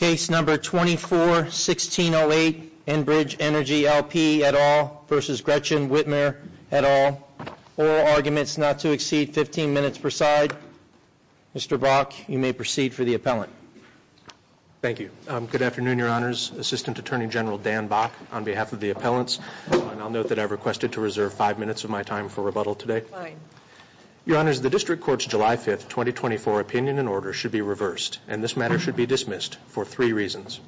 Case number 24-1608 Enbridge Energy LP et al. v. Gretchen Whitmer et al. Oral arguments not to exceed 15 minutes per side. Mr. Bok, you may proceed for the appellant. Thank you. Good afternoon, Your Honors. Assistant Attorney General Dan Bok, on behalf of the appellants, and I'll note that I've requested to reserve five minutes of my time for rebuttal today. Your Honors, the District Court's July 5, 2024, opinion and order should be reversed, and this matter should be dismissed for three reasons.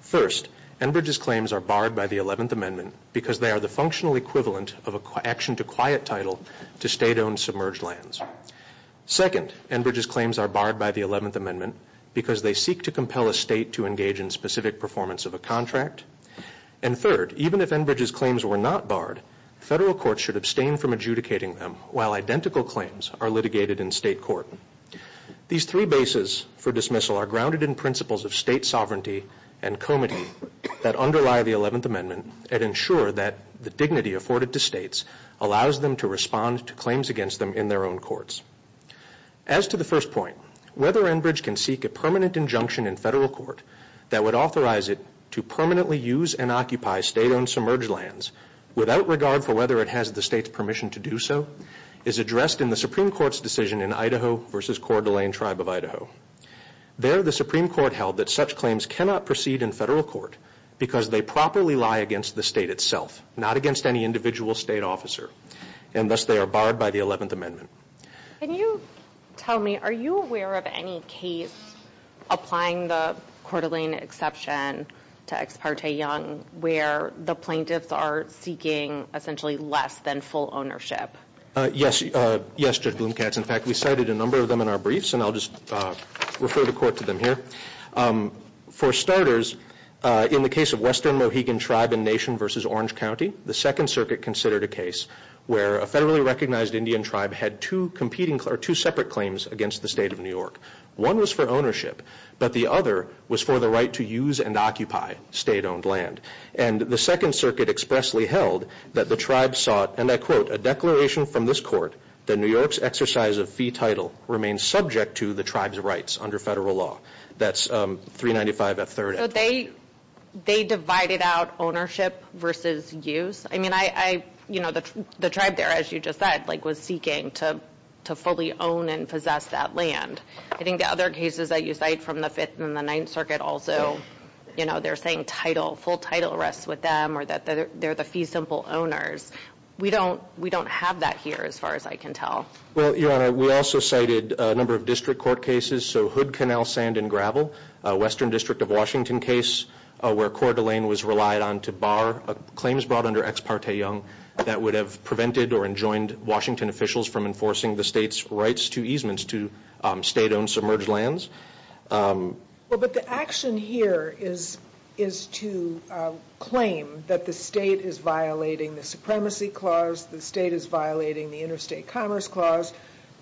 First, Enbridge's claims are barred by the 11th Amendment because they are the functional equivalent of an action to quiet title to state-owned submerged lands. Second, Enbridge's claims are barred by the 11th Amendment because they seek to compel a state to engage in specific performance of a contract. And third, even if Enbridge's claims were not barred, federal courts should abstain from adjudicating them while identical claims are litigated in state court. These three bases for dismissal are grounded in principles of state sovereignty and comity that underlie the 11th Amendment and ensure that the dignity afforded to states allows them to respond to claims against them in their own courts. As to the first point, whether Enbridge can seek a permanent injunction in federal court that would authorize it to permanently use and occupy state-owned submerged lands without regard for whether it has the state's permission to do so is addressed in the Supreme Court's decision in Idaho v. Coeur d'Alene Tribe of Idaho. There, the Supreme Court held that such claims cannot proceed in federal court because they properly lie against the state itself, not against any individual state officer, and thus they are barred by the 11th Amendment. Can you tell me, are you aware of any case applying the Coeur d'Alene exception to Ex parte Young where the plaintiffs are seeking essentially less than full ownership? Yes, Judge Bloom-Katz. In fact, we cited a number of them in our briefs, and I'll just refer the court to them here. For starters, in the case of Western Mohegan Tribe and Nation v. Orange County, the Second Circuit considered a case where a federally recognized Indian tribe had two competing or two separate claims against the state of New York. One was for ownership, but the other was for the right to use and occupy state-owned land. And the Second Circuit expressly held that the tribe sought, and I quote, a declaration from this court that New York's exercise of fee title remains subject to the tribe's rights under federal law. That's 395F3. So they divided out ownership versus use? I mean, the tribe there, as you just said, was seeking to fully own and possess that land. I think the other cases that you cite from the Fifth and the Ninth Circuit also, they're saying full title rests with them or that they're the fee simple owners. We don't have that here as far as I can tell. Well, Your Honor, we also cited a number of district court cases. So Hood Canal Sand and Gravel, a Western District of Washington case where Coeur d'Alene was relied on to bar claims brought under ex parte Young that would have prevented or enjoined Washington officials from enforcing the state's rights to easements to state-owned submerged lands. Well, but the action here is to claim that the state is violating the Supremacy Clause, the state is violating the Interstate Commerce Clause,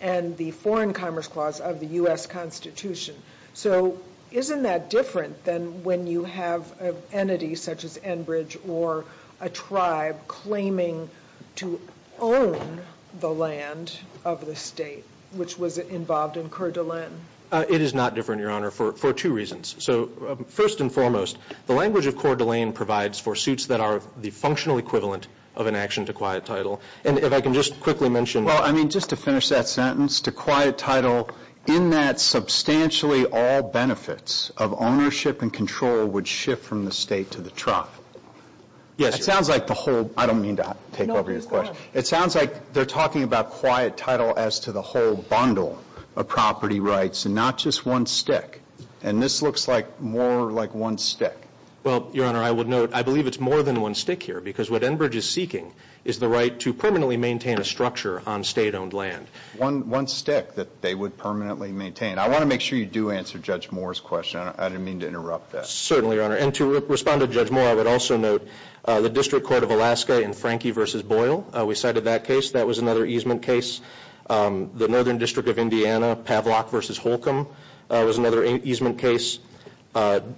and the Foreign Commerce Clause of the U.S. Constitution. So isn't that different than when you have an entity such as Enbridge or a tribe claiming to own the land of the state, which was involved in Coeur d'Alene? It is not different, Your Honor, for two reasons. So first and foremost, the language of Coeur d'Alene provides for suits that are the functional equivalent of an action to quiet title. And if I can just quickly mention— Well, I mean, just to finish that sentence, to quiet title in that substantially all benefits of ownership and control would shift from the state to the tribe. Yes, Your Honor. It sounds like the whole—I don't mean to take over your question. No, please go ahead. It sounds like they're talking about quiet title as to the whole bundle of property rights and not just one stick. And this looks like more like one stick. Well, Your Honor, I would note I believe it's more than one stick here because what Enbridge is seeking is the right to permanently maintain a structure on state-owned land. One stick that they would permanently maintain. I want to make sure you do answer Judge Moore's question. I didn't mean to interrupt that. Certainly, Your Honor. And to respond to Judge Moore, I would also note the District Court of Alaska in Frankie v. Boyle. We cited that case. That was another easement case. The Northern District of Indiana, Pavlok v. Holcomb, was another easement case.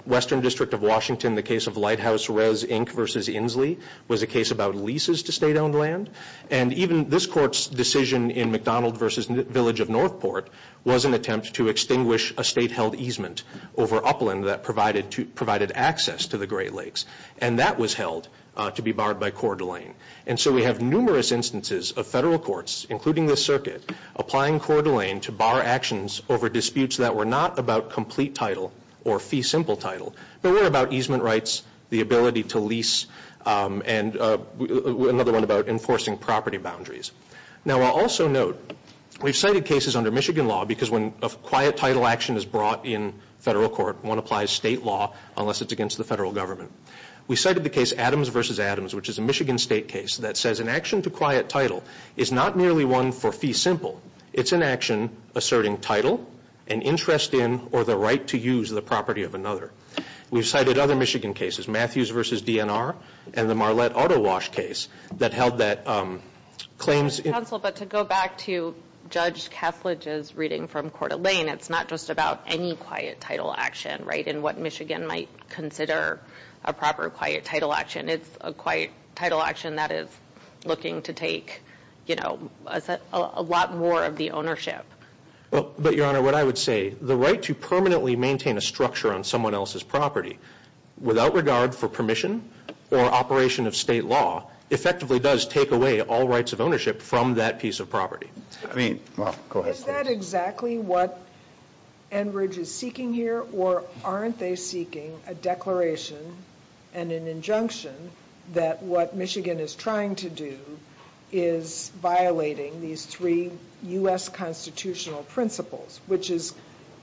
Western District of Washington, the case of Lighthouse, Rez, Inc. v. Inslee was a case about leases to state-owned land. And even this Court's decision in McDonald v. Village of Northport was an attempt to extinguish a state-held easement over upland that provided access to the Great Lakes. And that was held to be barred by Coeur d'Alene. And so we have numerous instances of federal courts, including this circuit, applying Coeur d'Alene to bar actions over disputes that were not about complete title or fee simple title, but were about easement rights, the ability to lease, and another one about enforcing property boundaries. Now, I'll also note, we've cited cases under Michigan law because when a quiet title action is brought in federal court, one applies state law unless it's against the federal government. We cited the case Adams v. Adams, which is a Michigan state case, that says an action to quiet title is not merely one for fee simple. It's an action asserting title, an interest in, or the right to use the property of another. We've cited other Michigan cases, Matthews v. DNR, and the Marlette Auto Wash case that held that claims in Counsel, but to go back to Judge Kessler's reading from Coeur d'Alene, it's not just about any quiet title action, right, in what Michigan might consider a proper quiet title action. It's a quiet title action that is looking to take, you know, a lot more of the ownership. But, Your Honor, what I would say, the right to permanently maintain a structure on someone else's property without regard for permission or operation of state law effectively does take away all rights of ownership from that piece of property. I mean, well, go ahead. Is that exactly what Enbridge is seeking here, or aren't they seeking a declaration and an injunction that what Michigan is trying to do is violating these three U.S. constitutional principles, which is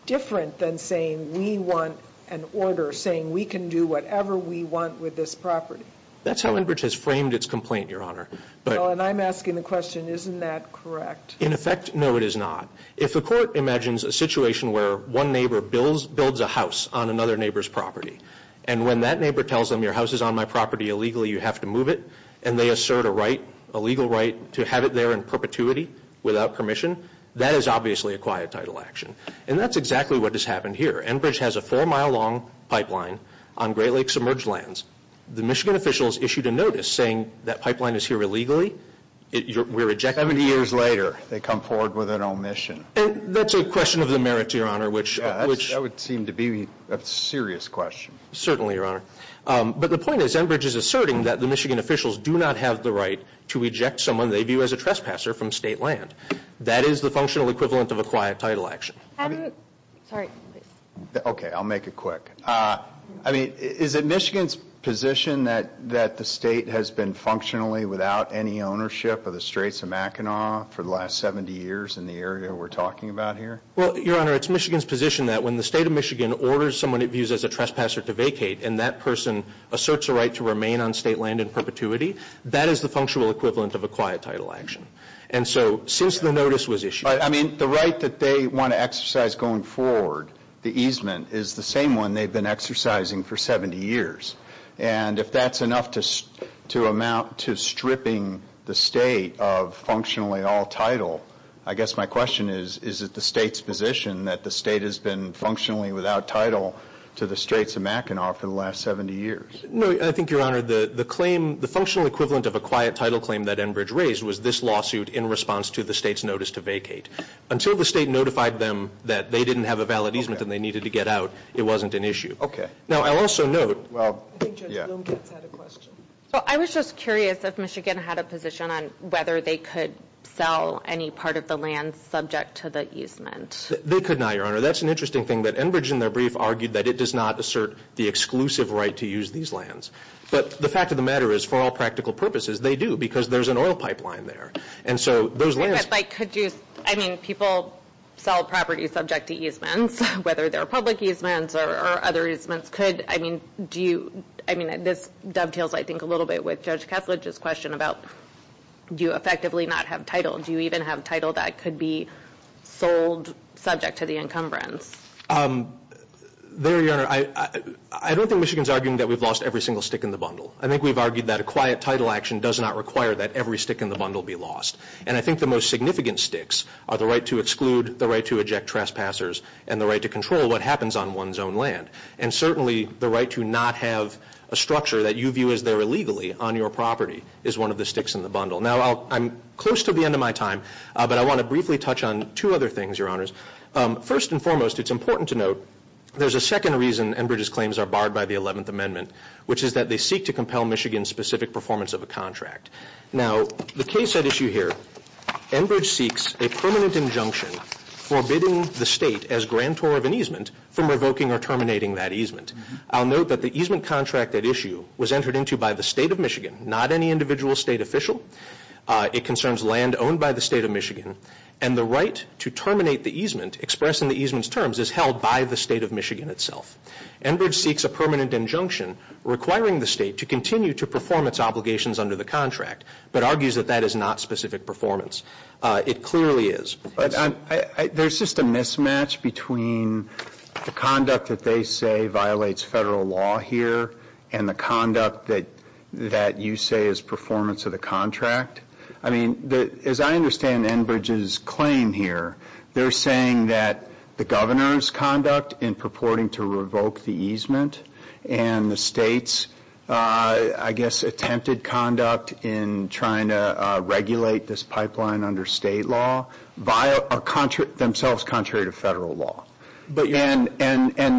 different than saying we want an order saying we can do whatever we want with this property? That's how Enbridge has framed its complaint, Your Honor. Well, and I'm asking the question, isn't that correct? In effect, no, it is not. If the court imagines a situation where one neighbor builds a house on another neighbor's property and when that neighbor tells them your house is on my property illegally, you have to move it, and they assert a right, a legal right, to have it there in perpetuity without permission, that is obviously a quiet title action. And that's exactly what has happened here. Enbridge has a four-mile long pipeline on Great Lakes submerged lands. The Michigan officials issued a notice saying that pipeline is here illegally. We're rejecting it. Seventy years later, they come forward with an omission. That's a question of the merits, Your Honor. That would seem to be a serious question. Certainly, Your Honor. But the point is Enbridge is asserting that the Michigan officials do not have the right to reject someone they view as a trespasser from state land. That is the functional equivalent of a quiet title action. Sorry. Okay, I'll make it quick. I mean, is it Michigan's position that the state has been functionally without any ownership of the Straits of Mackinac for the last 70 years in the area we're talking about here? Well, Your Honor, it's Michigan's position that when the state of Michigan orders someone it views as a trespasser to vacate, and that person asserts a right to remain on state land in perpetuity, that is the functional equivalent of a quiet title action. And so since the notice was issued I mean, the right that they want to exercise going forward, the easement, is the same one they've been exercising for 70 years. And if that's enough to amount to stripping the state of functionally all title, I guess my question is, is it the state's position that the state has been functionally without title to the Straits of Mackinac for the last 70 years? No, I think, Your Honor, the claim, the functional equivalent of a quiet title claim that Enbridge raised was this lawsuit in response to the state's notice to vacate. Until the state notified them that they didn't have a valid easement and they needed to get out, it wasn't an issue. Okay. Now, I'll also note, well, yeah. I think Judge Lombkatz had a question. Well, I was just curious if Michigan had a position on whether they could sell any part of the land subject to the easement. They could not, Your Honor. That's an interesting thing that Enbridge in their brief argued that it does not assert the exclusive right to use these lands. But the fact of the matter is, for all practical purposes, they do because there's an oil pipeline there, and so those lands But, like, could you, I mean, people sell property subject to easements, whether they're public easements or other easements, could, I mean, do you, I mean, this dovetails, I think, a little bit with Judge Kessler's question about do you effectively not have title? Do you even have title that could be sold subject to the encumbrance? There, Your Honor, I don't think Michigan's arguing that we've lost every single stick in the bundle. I think we've argued that a quiet title action does not require that every stick in the bundle be lost. And I think the most significant sticks are the right to exclude, the right to eject trespassers, and the right to control what happens on one's own land. And certainly the right to not have a structure that you view as their illegally on your property is one of the sticks in the bundle. Now, I'm close to the end of my time, but I want to briefly touch on two other things, Your Honors. First and foremost, it's important to note there's a second reason Enbridge's claims are barred by the 11th Amendment, which is that they seek to compel Michigan's specific performance of a contract. Now, the case at issue here, Enbridge seeks a permanent injunction forbidding the state as grantor of an easement from revoking or terminating that easement. I'll note that the easement contract at issue was entered into by the State of Michigan, not any individual state official. It concerns land owned by the State of Michigan, and the right to terminate the easement expressed in the easement's terms is held by the State of Michigan itself. Enbridge seeks a permanent injunction requiring the state to continue to perform its obligations under the contract, but argues that that is not specific performance. It clearly is. There's just a mismatch between the conduct that they say violates Federal law here and the conduct that you say is performance of the contract. I mean, as I understand Enbridge's claim here, they're saying that the governor's conduct in purporting to revoke the easement and the state's, I guess, attempted conduct in trying to regulate this pipeline under state law are themselves contrary to Federal law. And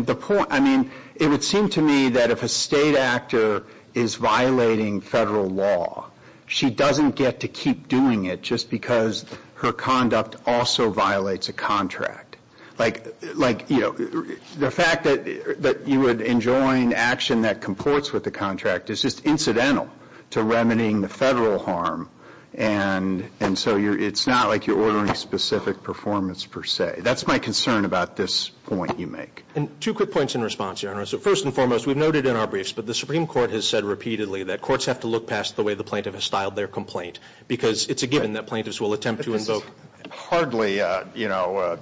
the point, I mean, it would seem to me that if a state actor is violating Federal law, she doesn't get to keep doing it just because her conduct also violates a contract. Like, you know, the fact that you would enjoin action that comports with the contract is just incidental to remedying the Federal harm, and so it's not like you're ordering specific performance per se. That's my concern about this point you make. And two quick points in response, Your Honor. So first and foremost, we've noted in our briefs, but the Supreme Court has said repeatedly that courts have to look past the way the plaintiff has styled their complaint because it's a given that plaintiffs will attempt to invoke. But this is hardly, you know,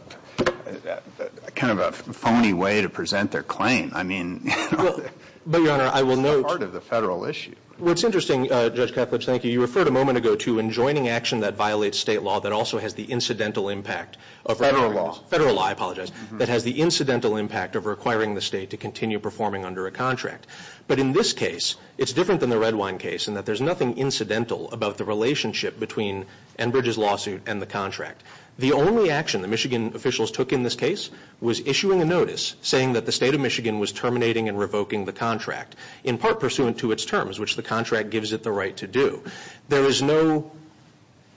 kind of a phony way to present their claim. I mean, you know. But, Your Honor, I will note. It's part of the Federal issue. Well, it's interesting, Judge Kaplitz, thank you. You referred a moment ago to enjoining action that violates state law that also has the incidental impact of requiring this. Federal law. Federal law, I apologize, that has the incidental impact of requiring the state to continue performing under a contract. But in this case, it's different than the Redwine case in that there's nothing incidental about the relationship between Enbridge's lawsuit and the contract. The only action the Michigan officials took in this case was issuing a notice saying that the State of Michigan was terminating and revoking the contract, in part pursuant to its terms, which the contract gives it the right to do. There is no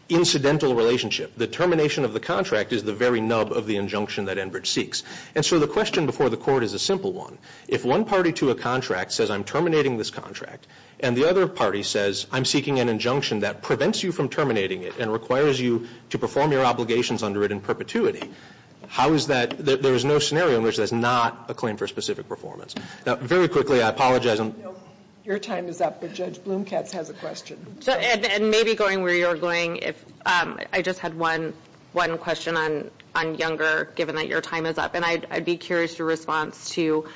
incidental relationship. The termination of the contract is the very nub of the injunction that Enbridge seeks. And so the question before the Court is a simple one. If one party to a contract says, I'm terminating this contract, and the other party says, I'm seeking an injunction that prevents you from terminating it and requires you to perform your obligations under it in perpetuity, how is that? There is no scenario in which there's not a claim for specific performance. Now, very quickly, I apologize. Your time is up, but Judge Blumkatz has a question. And maybe going where you're going, I just had one question on Younger, given that your time is up, and I'd be curious your response to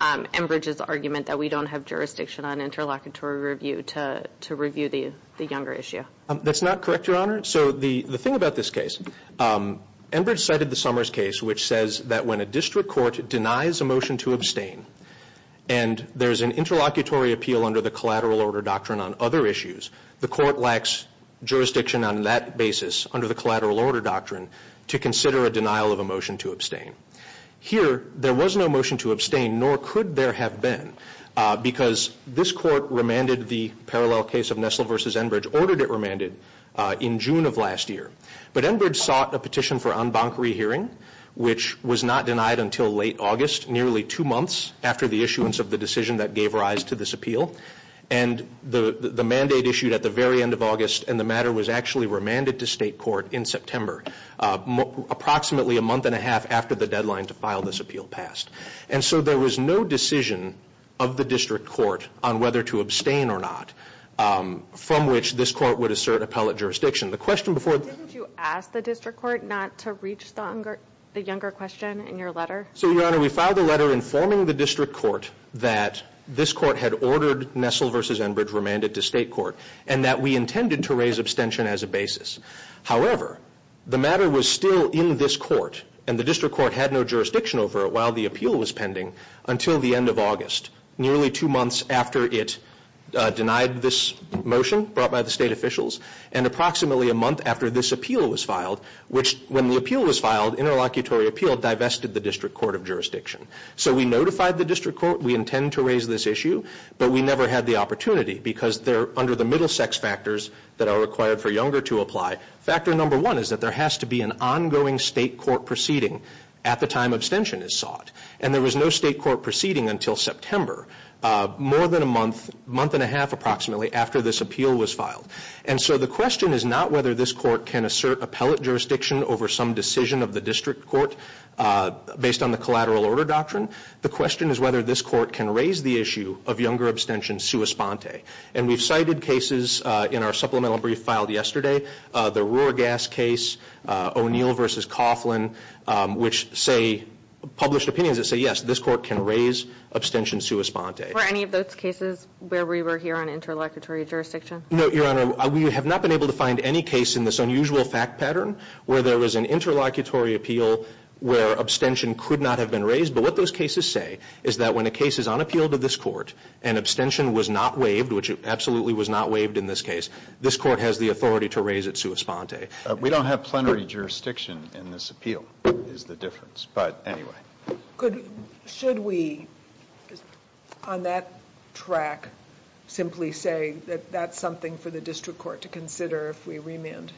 Enbridge's argument that we don't have jurisdiction on interlocutory review to review the Younger issue. That's not correct, Your Honor. So the thing about this case, Enbridge cited the Summers case, which says that when a district court denies a motion to abstain and there's an interlocutory appeal under the collateral order doctrine on other issues, the court lacks jurisdiction on that basis under the collateral order doctrine to consider a denial of a motion to abstain. Here, there was no motion to abstain, nor could there have been, because this court remanded the parallel case of Nestle v. Enbridge, ordered it remanded in June of last year. But Enbridge sought a petition for en banc rehearing, which was not denied until late August, nearly two months after the issuance of the decision that gave rise to this appeal. And the mandate issued at the very end of August, and the matter was actually remanded to state court in September, approximately a month and a half after the deadline to file this appeal passed. And so there was no decision of the district court on whether to abstain or not, from which this court would assert appellate jurisdiction. Didn't you ask the district court not to reach the younger question in your letter? So, Your Honor, we filed a letter informing the district court that this court had ordered Nestle v. Enbridge remanded to state court and that we intended to raise abstention as a basis. However, the matter was still in this court, and the district court had no jurisdiction over it while the appeal was pending until the end of August, nearly two months after it denied this motion, brought by the state officials, and approximately a month after this appeal was filed, which, when the appeal was filed, interlocutory appeal divested the district court of jurisdiction. So we notified the district court we intend to raise this issue, but we never had the opportunity because they're under the middle sex factors that are required for younger to apply. Factor number one is that there has to be an ongoing state court proceeding at the time abstention is sought. And there was no state court proceeding until September, more than a month, month and a half approximately, after this appeal was filed. And so the question is not whether this court can assert appellate jurisdiction over some decision of the district court based on the collateral order doctrine. The question is whether this court can raise the issue of younger abstention sua sponte. And we've cited cases in our supplemental brief filed yesterday, the Rohr gas case, O'Neill v. Coughlin, which say, published opinions that say, yes, this court can raise abstention sua sponte. Were any of those cases where we were here on interlocutory jurisdiction? No, Your Honor. We have not been able to find any case in this unusual fact pattern where there was an interlocutory appeal where abstention could not have been raised. But what those cases say is that when a case is on appeal to this court and abstention was not waived, which it absolutely was not waived in this case, this court has the authority to raise it sua sponte. We don't have plenary jurisdiction in this appeal is the difference. But anyway. Should we, on that track, simply say that that's something for the district court to consider if we remand?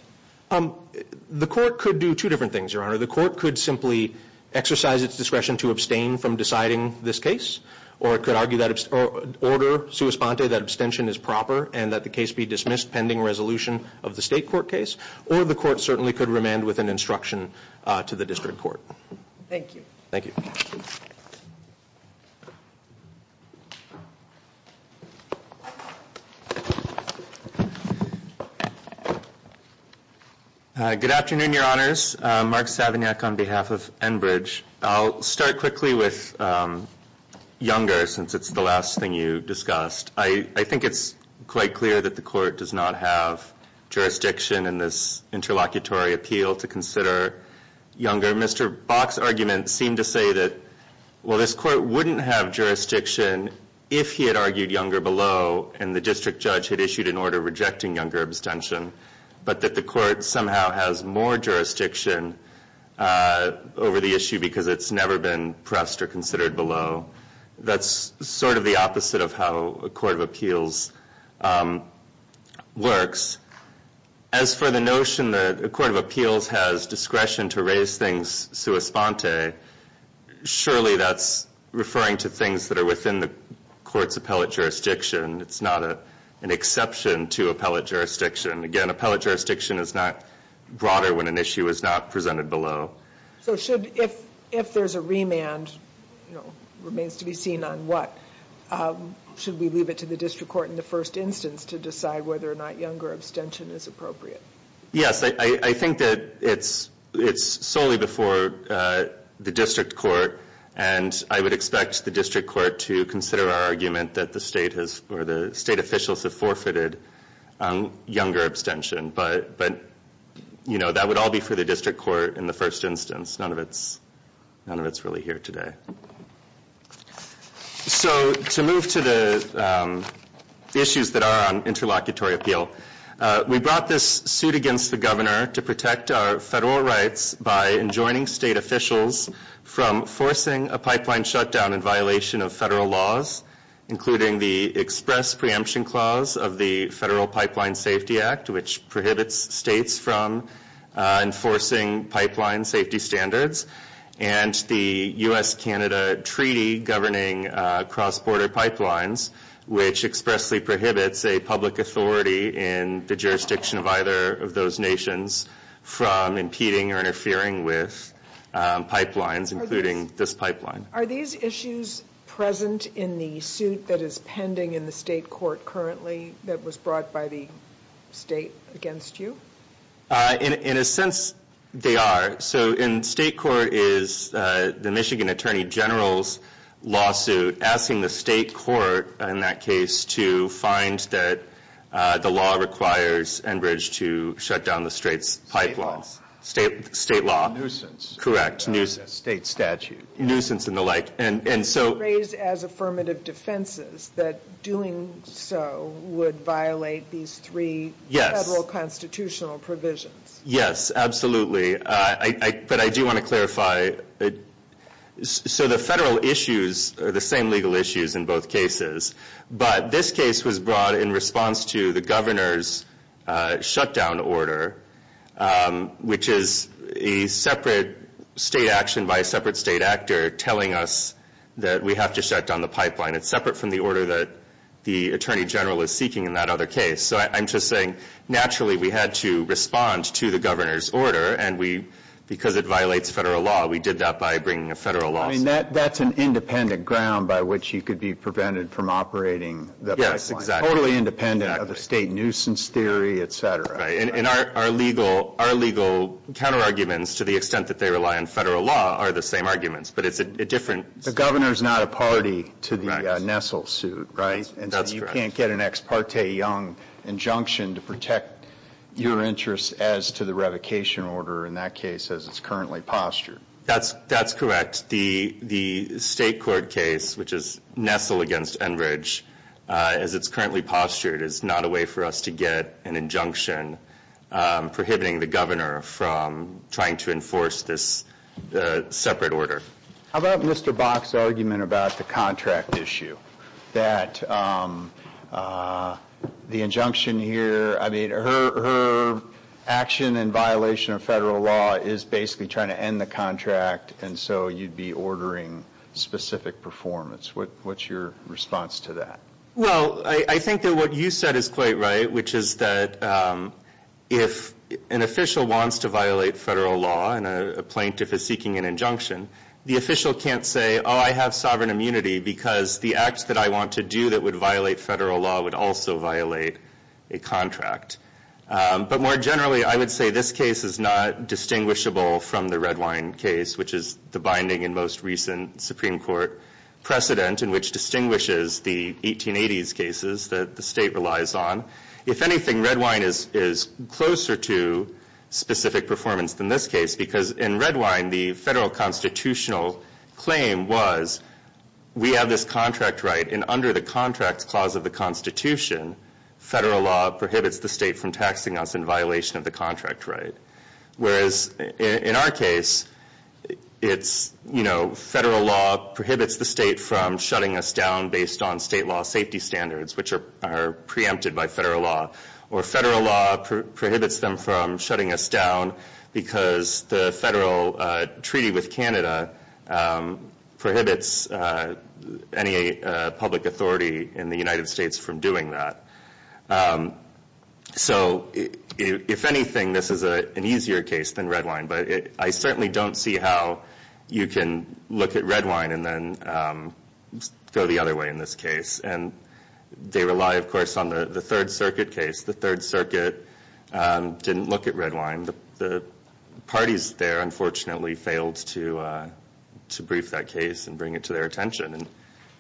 The court could do two different things, Your Honor. The court could simply exercise its discretion to abstain from deciding this case or it could argue that order sua sponte, that abstention is proper and that the case be dismissed pending resolution of the state court case. Or the court certainly could remand with an instruction to the district court. Thank you. Thank you. Good afternoon, Your Honors. Mark Savignac on behalf of Enbridge. I'll start quickly with Younger since it's the last thing you discussed. I think it's quite clear that the court does not have jurisdiction in this interlocutory appeal to consider Younger. Mr. Bach's argument seemed to say that, well, this court wouldn't have jurisdiction if he had argued Younger below and the district judge had issued an order rejecting Younger abstention, but that the court somehow has more jurisdiction over the issue because it's never been pressed or considered below. That's sort of the opposite of how a court of appeals works. As for the notion that a court of appeals has discretion to raise things sua sponte, surely that's referring to things that are within the court's appellate jurisdiction. It's not an exception to appellate jurisdiction. Again, appellate jurisdiction is not broader when an issue is not presented below. If there's a remand, it remains to be seen on what. Should we leave it to the district court in the first instance to decide whether or not Younger abstention is appropriate? Yes, I think that it's solely before the district court, and I would expect the district court to consider our argument that the state officials have forfeited Younger abstention, but that would all be for the district court in the first instance. None of it's really here today. To move to the issues that are on interlocutory appeal, we brought this suit against the governor to protect our federal rights by enjoining state officials from forcing a pipeline shutdown in violation of federal laws, including the express preemption clause of the Federal Pipeline Safety Act, which prohibits states from enforcing pipeline safety standards, and the U.S.-Canada Treaty governing cross-border pipelines, which expressly prohibits a public authority in the jurisdiction of either of those nations from impeding or interfering with pipelines, including this pipeline. Are these issues present in the suit that is pending in the state court currently that was brought by the state against you? In a sense, they are. So in state court is the Michigan Attorney General's lawsuit asking the state court, in that case, to find that the law requires Enbridge to shut down the state's pipeline. State law. Correct. State statute. Nuisance and the like. Raised as affirmative defenses, that doing so would violate these three federal constitutional provisions. Yes, absolutely. But I do want to clarify. So the federal issues are the same legal issues in both cases, but this case was brought in response to the governor's shutdown order, which is a separate state action by a separate state actor telling us that we have to shut down the pipeline. It's separate from the order that the attorney general is seeking in that other case. So I'm just saying naturally we had to respond to the governor's order, and because it violates federal law, we did that by bringing a federal lawsuit. I mean, that's an independent ground by which you could be prevented from operating the pipeline. Yes, exactly. Totally independent of the state nuisance theory, et cetera. And our legal counterarguments, to the extent that they rely on federal law, are the same arguments, but it's a different. The governor is not a party to the Nessel suit, right? That's correct. And so you can't get an ex parte young injunction to protect your interests as to the revocation order in that case as it's currently postured. That's correct. The state court case, which is Nessel against Enbridge, as it's currently postured, is not a way for us to get an injunction prohibiting the governor from trying to enforce this separate order. How about Mr. Bach's argument about the contract issue, that the injunction here, I mean, her action in violation of federal law is basically trying to end the contract, and so you'd be ordering specific performance. What's your response to that? Well, I think that what you said is quite right, which is that if an official wants to violate federal law and a plaintiff is seeking an injunction, the official can't say, oh, I have sovereign immunity, because the act that I want to do that would violate federal law would also violate a contract. But more generally, I would say this case is not distinguishable from the Redwine case, which is the binding and most recent Supreme Court precedent in which distinguishes the 1880s cases that the state relies on. If anything, Redwine is closer to specific performance than this case, because in Redwine, the federal constitutional claim was we have this contract right, and under the contracts clause of the Constitution, federal law prohibits the state from taxing us in violation of the contract right. Whereas in our case, it's, you know, federal law prohibits the state from shutting us down based on state law safety standards, which are preempted by federal law, or federal law prohibits them from shutting us down because the federal treaty with Canada prohibits any public authority in the United States from doing that. So if anything, this is an easier case than Redwine, but I certainly don't see how you can look at Redwine and then go the other way in this case. And they rely, of course, on the Third Circuit case. The Third Circuit didn't look at Redwine. The parties there, unfortunately, failed to brief that case and bring it to their attention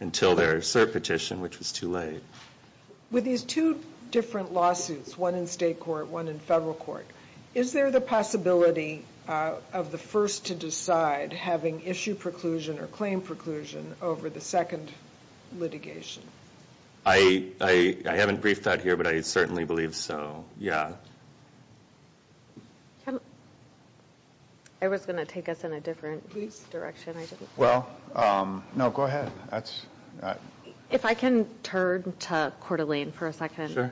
until their cert petition, which was too late. With these two different lawsuits, one in state court, one in federal court, is there the possibility of the first to decide having issue preclusion or claim preclusion over the second litigation? I haven't briefed that here, but I certainly believe so. Yeah. I was going to take us in a different direction. Well, no, go ahead. If I can turn to Coeur d'Alene for a second.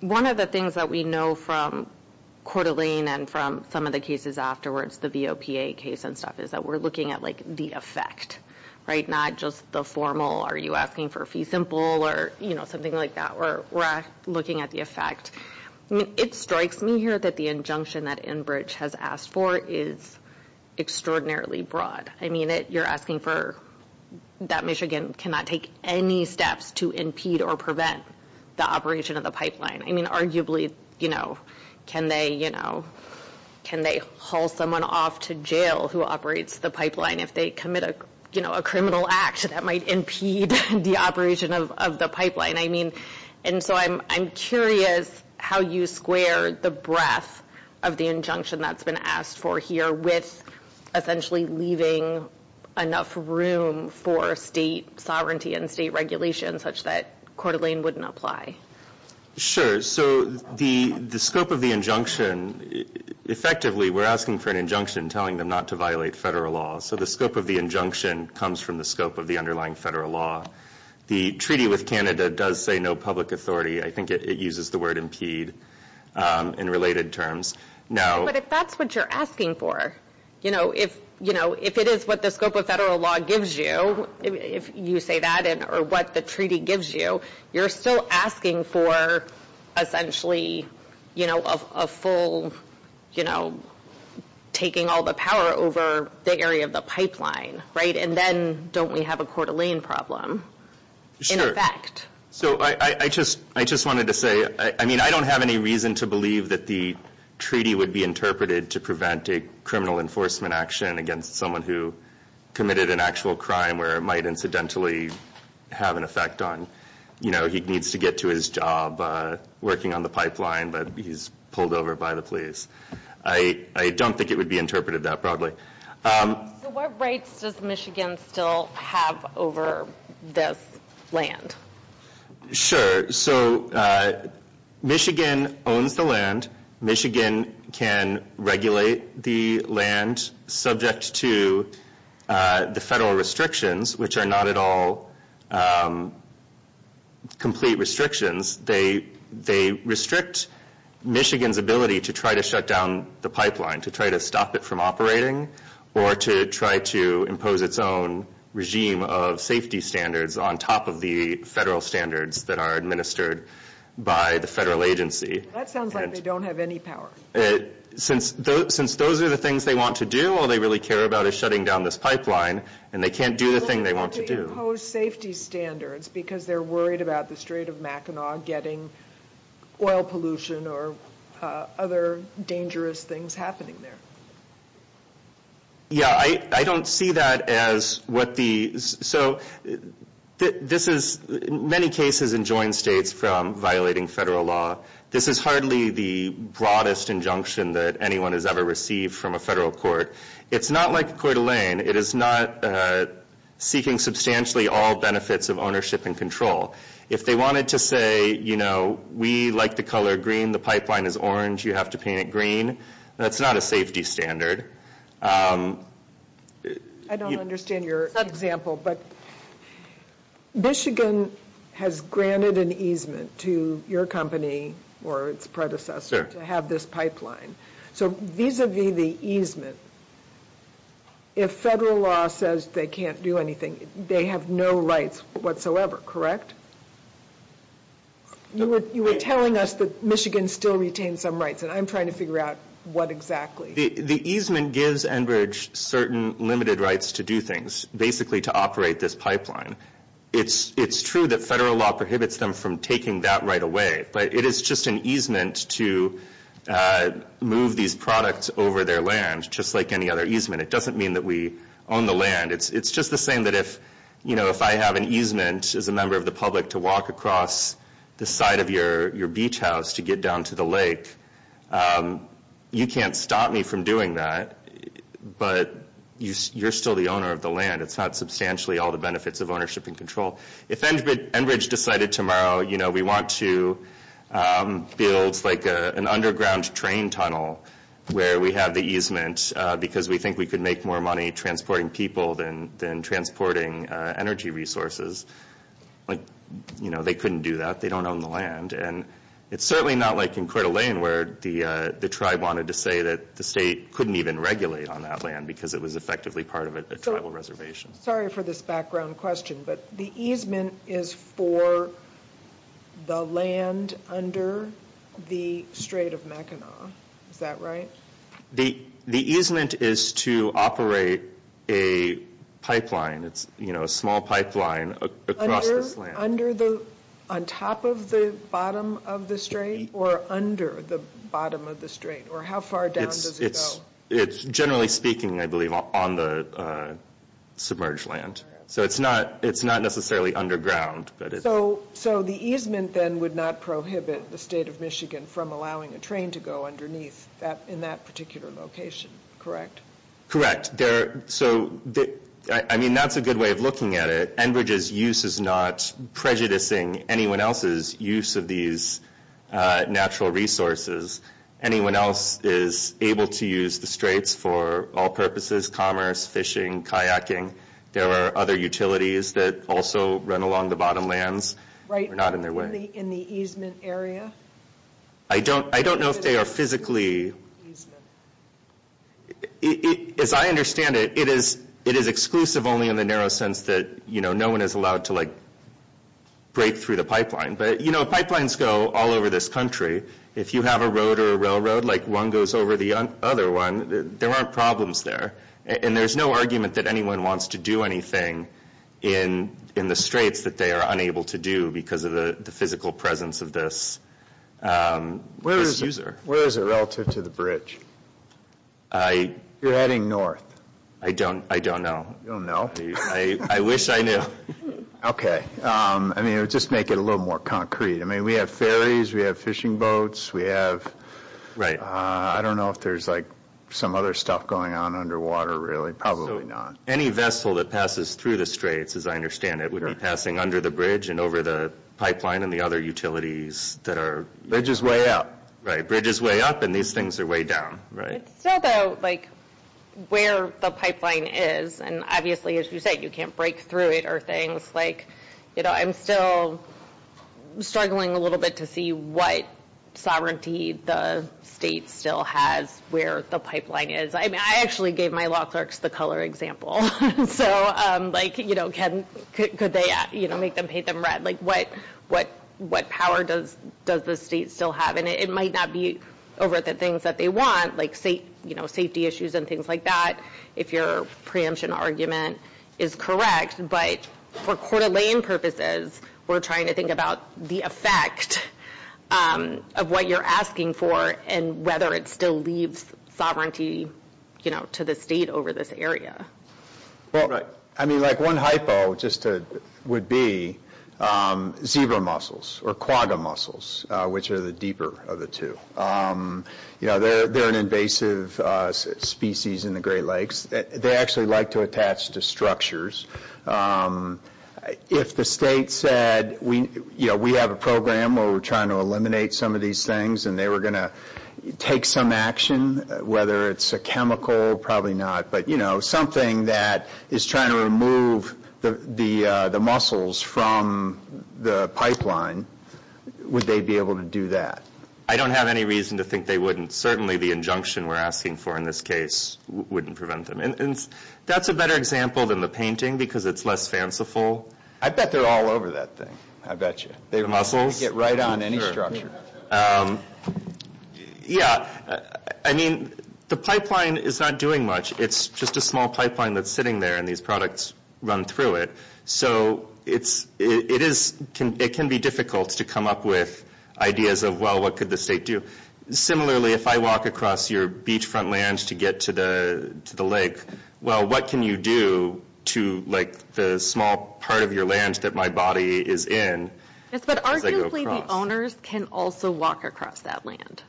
One of the things that we know from Coeur d'Alene and from some of the cases afterwards, the VOPA case and stuff, is that we're looking at, like, the effect, right? Not just the formal, are you asking for fee simple or something like that. We're looking at the effect. It strikes me here that the injunction that Enbridge has asked for is extraordinarily broad. I mean, you're asking for that Michigan cannot take any steps to impede or prevent the operation of the pipeline. I mean, arguably, you know, can they, you know, can they haul someone off to jail who operates the pipeline if they commit a criminal act that might impede the operation of the pipeline? I mean, and so I'm curious how you square the breadth of the injunction that's been asked for here with essentially leaving enough room for state sovereignty and state regulation such that Coeur d'Alene wouldn't apply. Sure. So the scope of the injunction, effectively, we're asking for an injunction telling them not to violate federal law. So the scope of the injunction comes from the scope of the underlying federal law. The treaty with Canada does say no public authority. I think it uses the word impede in related terms. But if that's what you're asking for, you know, if it is what the scope of federal law gives you, if you say that, or what the treaty gives you, you're still asking for essentially, you know, a full, you know, taking all the power over the area of the pipeline, right? And then don't we have a Coeur d'Alene problem in effect? So I just wanted to say, I mean, I don't have any reason to believe that the treaty would be interpreted to prevent a criminal enforcement action against someone who committed an actual crime where it might incidentally have an effect on, you know, he needs to get to his job working on the pipeline, but he's pulled over by the police. I don't think it would be interpreted that probably. So what rights does Michigan still have over this land? Sure. So Michigan owns the land. Michigan can regulate the land subject to the federal restrictions, which are not at all complete restrictions. They restrict Michigan's ability to try to shut down the pipeline, to try to stop it from operating, or to try to impose its own regime of safety standards on top of the federal standards that are administered by the federal agency. That sounds like they don't have any power. Since those are the things they want to do, all they really care about is shutting down this pipeline, and they can't do the thing they want to do. They impose safety standards because they're worried about the state of Mackinac getting oil pollution or other dangerous things happening there. Yeah, I don't see that as what the – so this is – in many cases in joint states from violating federal law, this is hardly the broadest injunction that anyone has ever received from a federal court. It's not like Coeur d'Alene. It is not seeking substantially all benefits of ownership and control. If they wanted to say, you know, we like the color green, the pipeline is orange, you have to paint it green, that's not a safety standard. I don't understand your example, but Michigan has granted an easement to your company or its predecessor to have this pipeline. So vis-a-vis the easement, if federal law says they can't do anything, they have no rights whatsoever, correct? You were telling us that Michigan still retains some rights, and I'm trying to figure out what exactly. The easement gives Enbridge certain limited rights to do things, basically to operate this pipeline. It's true that federal law prohibits them from taking that right away, but it is just an easement to move these products over their land, just like any other easement. It doesn't mean that we own the land. It's just the same that if, you know, if I have an easement as a member of the public to walk across the side of your beach house to get down to the lake, you can't stop me from doing that, but you're still the owner of the land. It's not substantially all the benefits of ownership and control. If Enbridge decided tomorrow, you know, we want to build, like, an underground train tunnel where we have the easement because we think we could make more money transporting people than transporting energy resources, like, you know, they couldn't do that. They don't own the land, and it's certainly not like in Coeur d'Alene where the tribe wanted to say that the state couldn't even regulate on that land because it was effectively part of a tribal reservation. Sorry for this background question, but the easement is for the land under the Strait of Mackinac. Is that right? The easement is to operate a pipeline. It's, you know, a small pipeline across this land. Under the, on top of the bottom of the Strait, or under the bottom of the Strait, or how far down does it go? It's generally speaking, I believe, on the submerged land. So it's not necessarily underground. So the easement then would not prohibit the State of Michigan from allowing a train to go underneath in that particular location, correct? Correct. So, I mean, that's a good way of looking at it. Enbridge's use is not prejudicing anyone else's use of these natural resources. Anyone else is able to use the Straits for all purposes, commerce, fishing, kayaking. There are other utilities that also run along the bottom lands. Right. They're not in their way. In the easement area? I don't know if they are physically. Easement. As I understand it, it is exclusive only in the narrow sense that, you know, no one is allowed to, like, break through the pipeline. But, you know, pipelines go all over this country. If you have a road or a railroad, like one goes over the other one, there aren't problems there. And there's no argument that anyone wants to do anything in the Straits that they are unable to do because of the physical presence of this user. Where is it relative to the bridge? You're heading north. I don't know. You don't know? I wish I knew. Okay. I mean, just to make it a little more concrete. I mean, we have ferries. We have fishing boats. We have... I don't know if there's, like, some other stuff going on underwater, really. Probably not. Any vessel that passes through the Straits, as I understand it, would be passing under the bridge and over the pipeline and the other utilities that are... Bridge is way up. Right. Bridge is way up, and these things are way down. Right. It's still, though, like, where the pipeline is. And obviously, as you said, you can't break through it or things. Like, you know, I'm still struggling a little bit to see what sovereignty the State still has where the pipeline is. I mean, I actually gave my law clerks the color example. So, like, you know, could they, you know, make them paint them red? Like, what power does the State still have? And it might not be over the things that they want, like, you know, safety issues and things like that, if your preemption argument is correct. But for Coeur d'Alene purposes, we're trying to think about the effect of what you're asking for and whether it still leaves sovereignty, you know, to the State over this area. Well, I mean, like, one hypo just would be zebra mussels or quagga mussels, which are the deeper of the two. You know, they're an invasive species in the Great Lakes. They actually like to attach to structures. If the State said, you know, we have a program where we're trying to eliminate some of these things and they were going to take some action, whether it's a chemical, probably not, but, you know, something that is trying to remove the mussels from the pipeline, would they be able to do that? I don't have any reason to think they wouldn't. Certainly the injunction we're asking for in this case wouldn't prevent them. And that's a better example than the painting because it's less fanciful. I bet they're all over that thing. I bet you. The mussels? They can get right on any structure. Yeah. I mean, the pipeline is not doing much. It's just a small pipeline that's sitting there and these products run through it. So it can be difficult to come up with ideas of, well, what could the State do? Similarly, if I walk across your beachfront land to get to the lake, well, what can you do to, like, the small part of your land that my body is in? Yes, but arguably the owners can also walk across that land.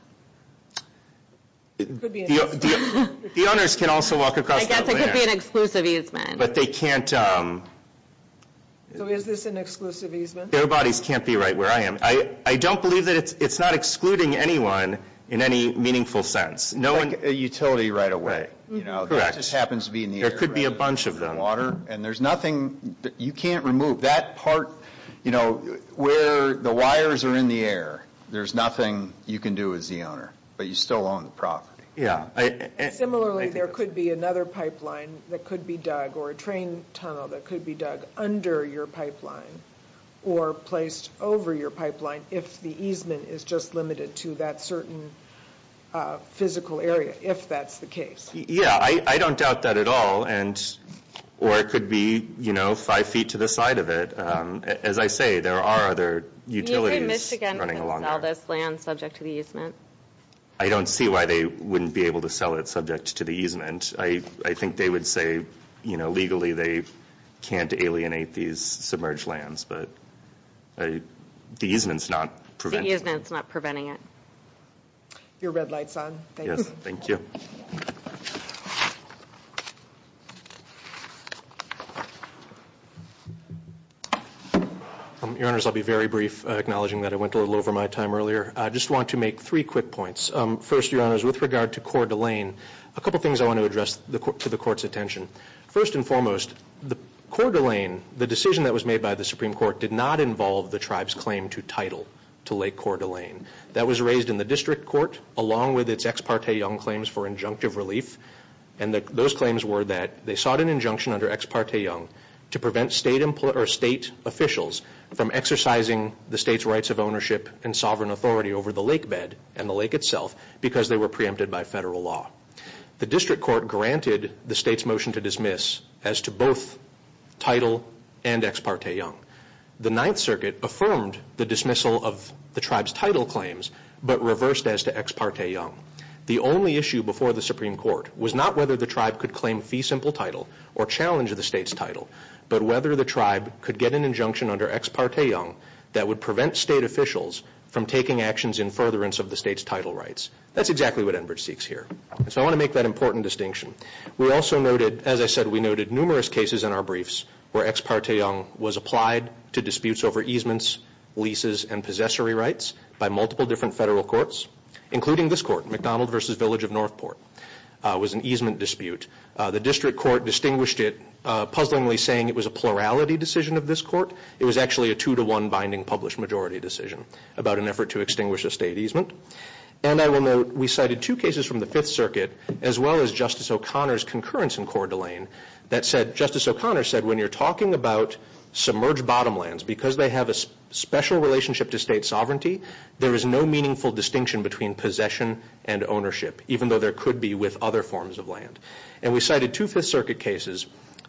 It could be an exclusive easement. The owners can also walk across that land. I guess it could be an exclusive easement. But they can't. So is this an exclusive easement? Their bodies can't be right where I am. I don't believe that it's not excluding anyone in any meaningful sense. Like a utility right away. Correct. That just happens to be in the air, right? There could be a bunch of them. And there's nothing that you can't remove. That part, you know, where the wires are in the air, there's nothing you can do as the owner. But you still own the property. Yeah. Similarly, there could be another pipeline that could be dug or a train tunnel that could be dug under your pipeline or placed over your pipeline if the easement is just limited to that certain physical area, if that's the case. Yeah, I don't doubt that at all. Or it could be, you know, five feet to the side of it. As I say, there are other utilities running along there. Can you say Michigan can sell this land subject to the easement? I don't see why they wouldn't be able to sell it subject to the easement. I think they would say, you know, legally they can't alienate these submerged lands. But the easement's not preventing it. The easement's not preventing it. Your red light's on. Thank you. Yes, thank you. Your Honors, I'll be very brief, acknowledging that I went a little over my time earlier. I just want to make three quick points. First, Your Honors, with regard to Coeur d'Alene, a couple things I want to address to the Court's attention. First and foremost, Coeur d'Alene, the decision that was made by the Supreme Court, did not involve the tribe's claim to title to Lake Coeur d'Alene. That was raised in the District Court along with its Ex parte Young claims for injunctive relief. And those claims were that they sought an injunction under Ex parte Young to prevent state officials from exercising the state's rights of ownership and sovereign authority over the lake bed and the lake itself because they were preempted by federal law. The District Court granted the state's motion to dismiss as to both title and Ex parte Young. The Ninth Circuit affirmed the dismissal of the tribe's title claims, but reversed as to Ex parte Young. The only issue before the Supreme Court was not whether the tribe could claim fee simple title or challenge the state's title, but whether the tribe could get an injunction under Ex parte Young that would prevent state officials from taking actions in furtherance of the state's title rights. That's exactly what Enbridge seeks here. So I want to make that important distinction. We also noted, as I said, we noted numerous cases in our briefs where Ex parte Young was applied to disputes over easements, leases, and possessory rights by multiple different federal courts, including this court, McDonald v. Village of Northport. It was an easement dispute. The District Court distinguished it, puzzlingly saying it was a plurality decision of this court. It was actually a two-to-one binding published majority decision about an effort to extinguish a state easement. And I will note we cited two cases from the Fifth Circuit, as well as Justice O'Connor's concurrence in Coeur d'Alene, that Justice O'Connor said when you're talking about submerged bottomlands, because they have a special relationship to state sovereignty, there is no meaningful distinction between possession and ownership, even though there could be with other forms of land. And we cited two Fifth Circuit cases.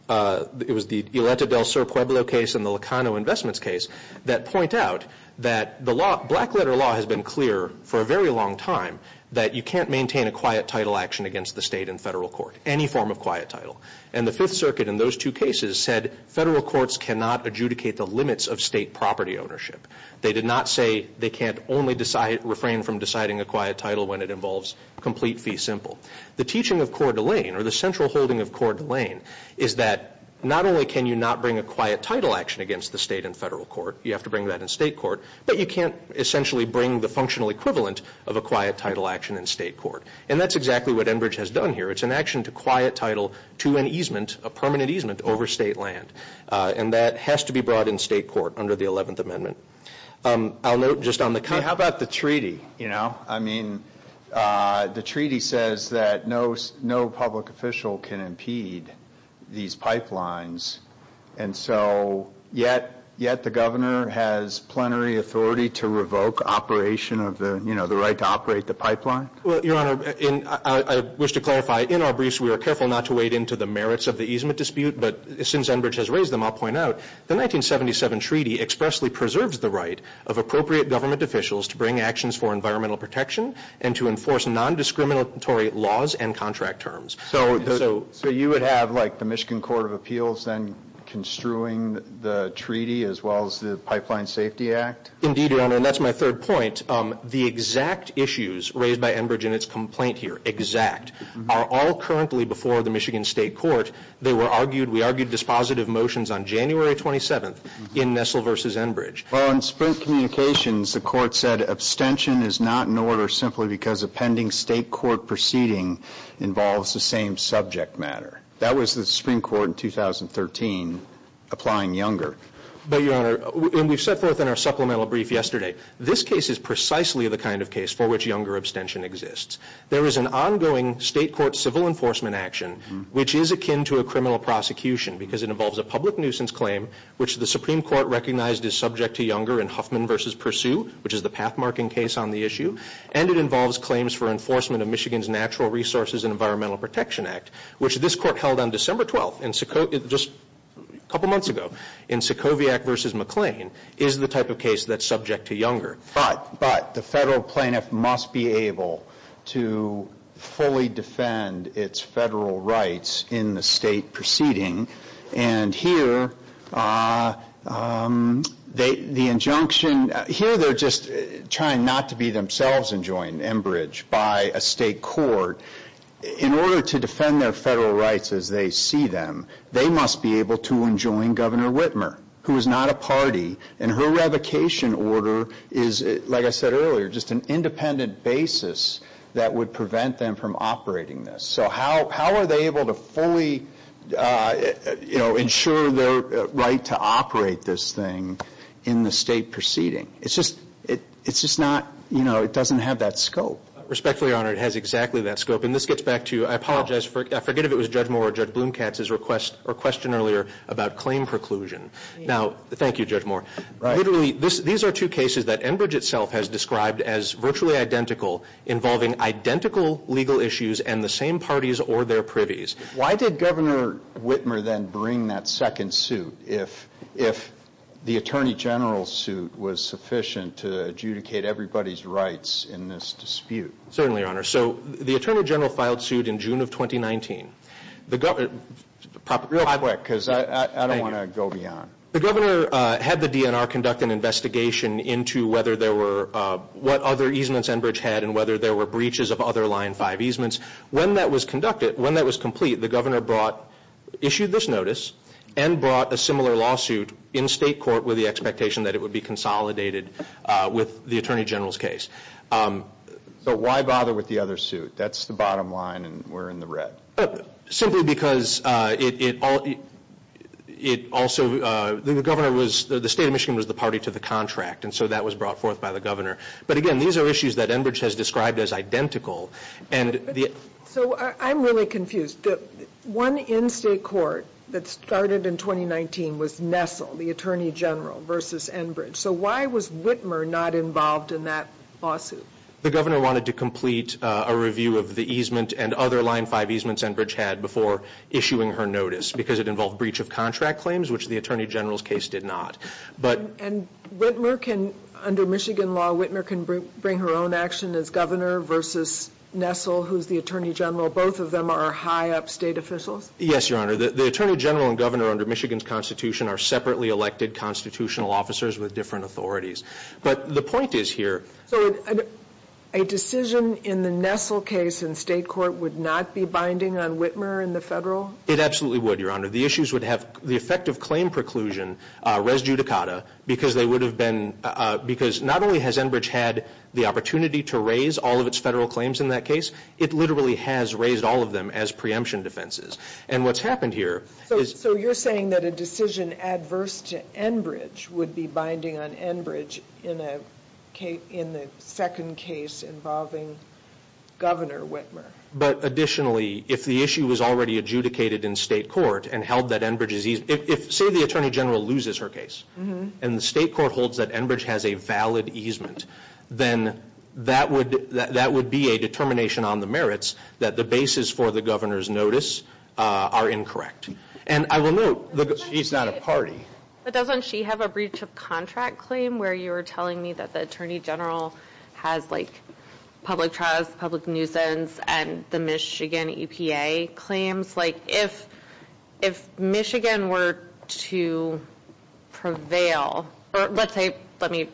It was the Ileta del Sur Pueblo case and the Locano Investments case that point out that the law, black-letter law, has been clear for a very long time that you can't maintain a quiet title action against the state in federal court, any form of quiet title. And the Fifth Circuit in those two cases said federal courts cannot adjudicate the limits of state property ownership. They did not say they can't only refrain from deciding a quiet title when it involves complete fee simple. The teaching of Coeur d'Alene, or the central holding of Coeur d'Alene, is that not only can you not bring a quiet title action against the state in federal court, you have to bring that in state court, but you can't essentially bring the functional equivalent of a quiet title action in state court. And that's exactly what Enbridge has done here. It's an action to quiet title to an easement, a permanent easement, over state land. And that has to be brought in state court under the Eleventh Amendment. I'll note just on the kind of... What about the treaty, you know? I mean, the treaty says that no public official can impede these pipelines, and so yet the governor has plenary authority to revoke operation of the, you know, the right to operate the pipeline? Well, Your Honor, I wish to clarify, in our briefs we were careful not to wade into the merits of the easement dispute, but since Enbridge has raised them, I'll point out, the 1977 treaty expressly preserves the right of appropriate government officials to bring actions for environmental protection and to enforce nondiscriminatory laws and contract terms. So you would have, like, the Michigan Court of Appeals then construing the treaty as well as the Pipeline Safety Act? Indeed, Your Honor, and that's my third point. The exact issues raised by Enbridge in its complaint here, exact, are all currently before the Michigan State Court. They were argued, we argued dispositive motions on January 27th in Nessel v. Enbridge. Well, in Sprint Communications, the court said abstention is not in order simply because a pending state court proceeding involves the same subject matter. That was the Supreme Court in 2013 applying Younger. But, Your Honor, and we've set forth in our supplemental brief yesterday, this case is precisely the kind of case for which Younger abstention exists. There is an ongoing state court civil enforcement action, which is akin to a criminal prosecution because it involves a public nuisance claim, which the Supreme Court recognized is subject to Younger in Huffman v. Pursue, which is the path-marking case on the issue, and it involves claims for enforcement of Michigan's Natural Resources and Environmental Protection Act, which this court held on December 12th, just a couple months ago, in Sokoviac v. McLean, is the type of case that's subject to Younger. But the federal plaintiff must be able to fully defend its federal rights in the state proceeding, and here the injunction, here they're just trying not to be themselves enjoined, Enbridge, by a state court. In order to defend their federal rights as they see them, they must be able to enjoin Governor Whitmer, who is not a party, and her revocation order is, like I said earlier, just an independent basis that would prevent them from operating this. So how are they able to fully, you know, ensure their right to operate this thing in the state proceeding? It's just not, you know, it doesn't have that scope. Respectfully honored. It has exactly that scope, and this gets back to, I apologize, I forget if it was Judge Moore or Judge Blomkatz's request or question earlier about claim preclusion. Now, thank you, Judge Moore. Literally, these are two cases that Enbridge itself has described as virtually identical, involving identical legal issues and the same parties or their privies. Why did Governor Whitmer then bring that second suit, if the Attorney General's suit was sufficient to adjudicate everybody's rights in this dispute? Certainly, Your Honor. So the Attorney General filed suit in June of 2019. Real quick, because I don't want to go beyond. The Governor had the DNR conduct an investigation into whether there were, what other easements Enbridge had and whether there were breaches of other Line 5 easements. When that was conducted, when that was complete, the Governor brought, issued this notice and brought a similar lawsuit in state court with the expectation that it would be consolidated with the Attorney General's case. So why bother with the other suit? That's the bottom line and we're in the red. Simply because it also, the State of Michigan was the party to the contract, and so that was brought forth by the Governor. But again, these are issues that Enbridge has described as identical. So I'm really confused. One in state court that started in 2019 was Nessel, the Attorney General, versus Enbridge. So why was Whitmer not involved in that lawsuit? The Governor wanted to complete a review of the easement and other Line 5 easements Enbridge had before issuing her notice, because it involved breach of contract claims, which the Attorney General's case did not. And Whitmer can, under Michigan law, Whitmer can bring her own action as Governor versus Nessel, who's the Attorney General. Both of them are high up state officials? Yes, Your Honor. The Attorney General and Governor under Michigan's Constitution are separately elected constitutional officers with different authorities. But the point is here. So a decision in the Nessel case in state court would not be binding on Whitmer in the Federal? It absolutely would, Your Honor. The issues would have the effect of claim preclusion res judicata, because they would have been, because not only has Enbridge had the opportunity to raise all of its Federal claims in that case, it literally has raised all of them as preemption defenses. And what's happened here is. So you're saying that a decision adverse to Enbridge would be binding on Enbridge in the second case involving Governor Whitmer? But additionally, if the issue was already adjudicated in state court and held that Enbridge is, say the Attorney General loses her case, and the state court holds that Enbridge has a valid easement, then that would be a determination on the merits that the basis for the Governor's notice are incorrect. And I will note, she's not a party. But doesn't she have a breach of contract claim where you were telling me that the Attorney General has like public trials, public nuisance, and the Michigan EPA claims? Like if Michigan were to prevail, or let's say, let me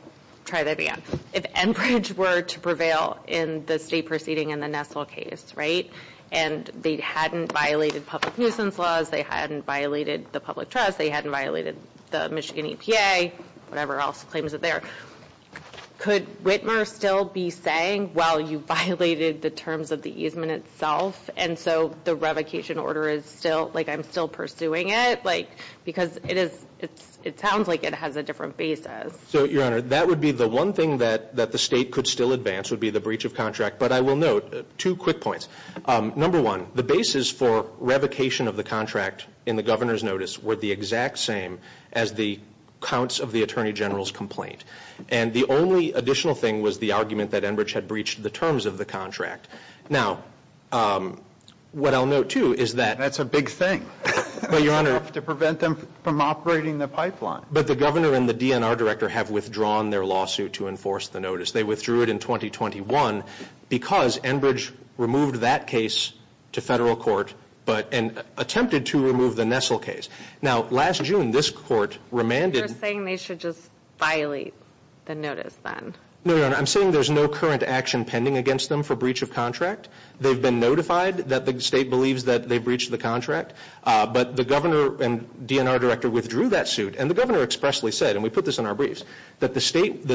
try that again. If Enbridge were to prevail in the state proceeding in the Nessel case, right, and they hadn't violated public nuisance laws, they hadn't violated the public trust, they hadn't violated the Michigan EPA, whatever else claims are there, could Whitmer still be saying, well, you violated the terms of the easement itself, and so the revocation order is still, like I'm still pursuing it? Like because it sounds like it has a different basis. So, Your Honor, that would be the one thing that the state could still advance would be the breach of contract. But I will note two quick points. Number one, the basis for revocation of the contract in the Governor's notice were the exact same as the counts of the Attorney General's complaint. And the only additional thing was the argument that Enbridge had breached the terms of the contract. Now, what I'll note, too, is that. That's a big thing. But, Your Honor. To prevent them from operating the pipeline. But the Governor and the DNR Director have withdrawn their lawsuit to enforce the notice. They withdrew it in 2021 because Enbridge removed that case to federal court and attempted to remove the Nessel case. Now, last June, this court remanded. You're saying they should just violate the notice then? No, Your Honor. I'm saying there's no current action pending against them for breach of contract. They've been notified that the state believes that they breached the contract. But the Governor and DNR Director withdrew that suit. And the Governor expressly said, and we put this in our briefs, that the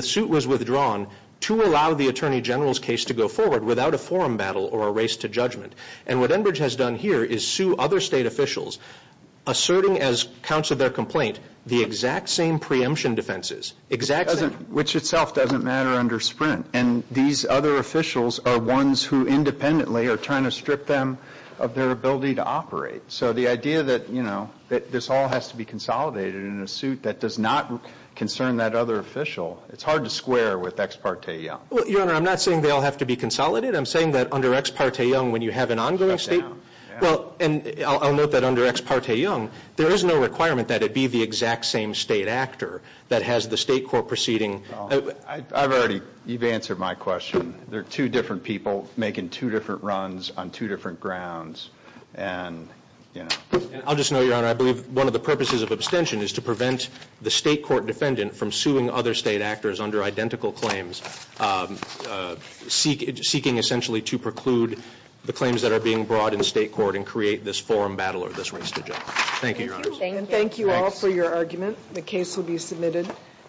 suit was withdrawn to allow the Attorney General's case to go forward without a forum battle or a race to judgment. And what Enbridge has done here is sue other state officials, asserting as counts of their complaint, the exact same preemption defenses. Which itself doesn't matter under Sprint. And these other officials are ones who independently are trying to strip them of their ability to operate. So the idea that, you know, that this all has to be consolidated in a suit that does not concern that other official, it's hard to square with Ex parte Young. Well, Your Honor, I'm not saying they all have to be consolidated. I'm saying that under Ex parte Young, when you have an ongoing state. Well, and I'll note that under Ex parte Young, there is no requirement that it be the exact same state actor that has the state court proceeding. I've already, you've answered my question. There are two different people making two different runs on two different grounds. And, you know. I'll just note, Your Honor, I believe one of the purposes of abstention is to prevent the state court defendant from suing other state actors under identical claims. Seeking essentially to preclude the claims that are being brought in state court and create this forum battle or this race to judgment. Thank you, Your Honor. Thank you all for your argument. The case will be submitted.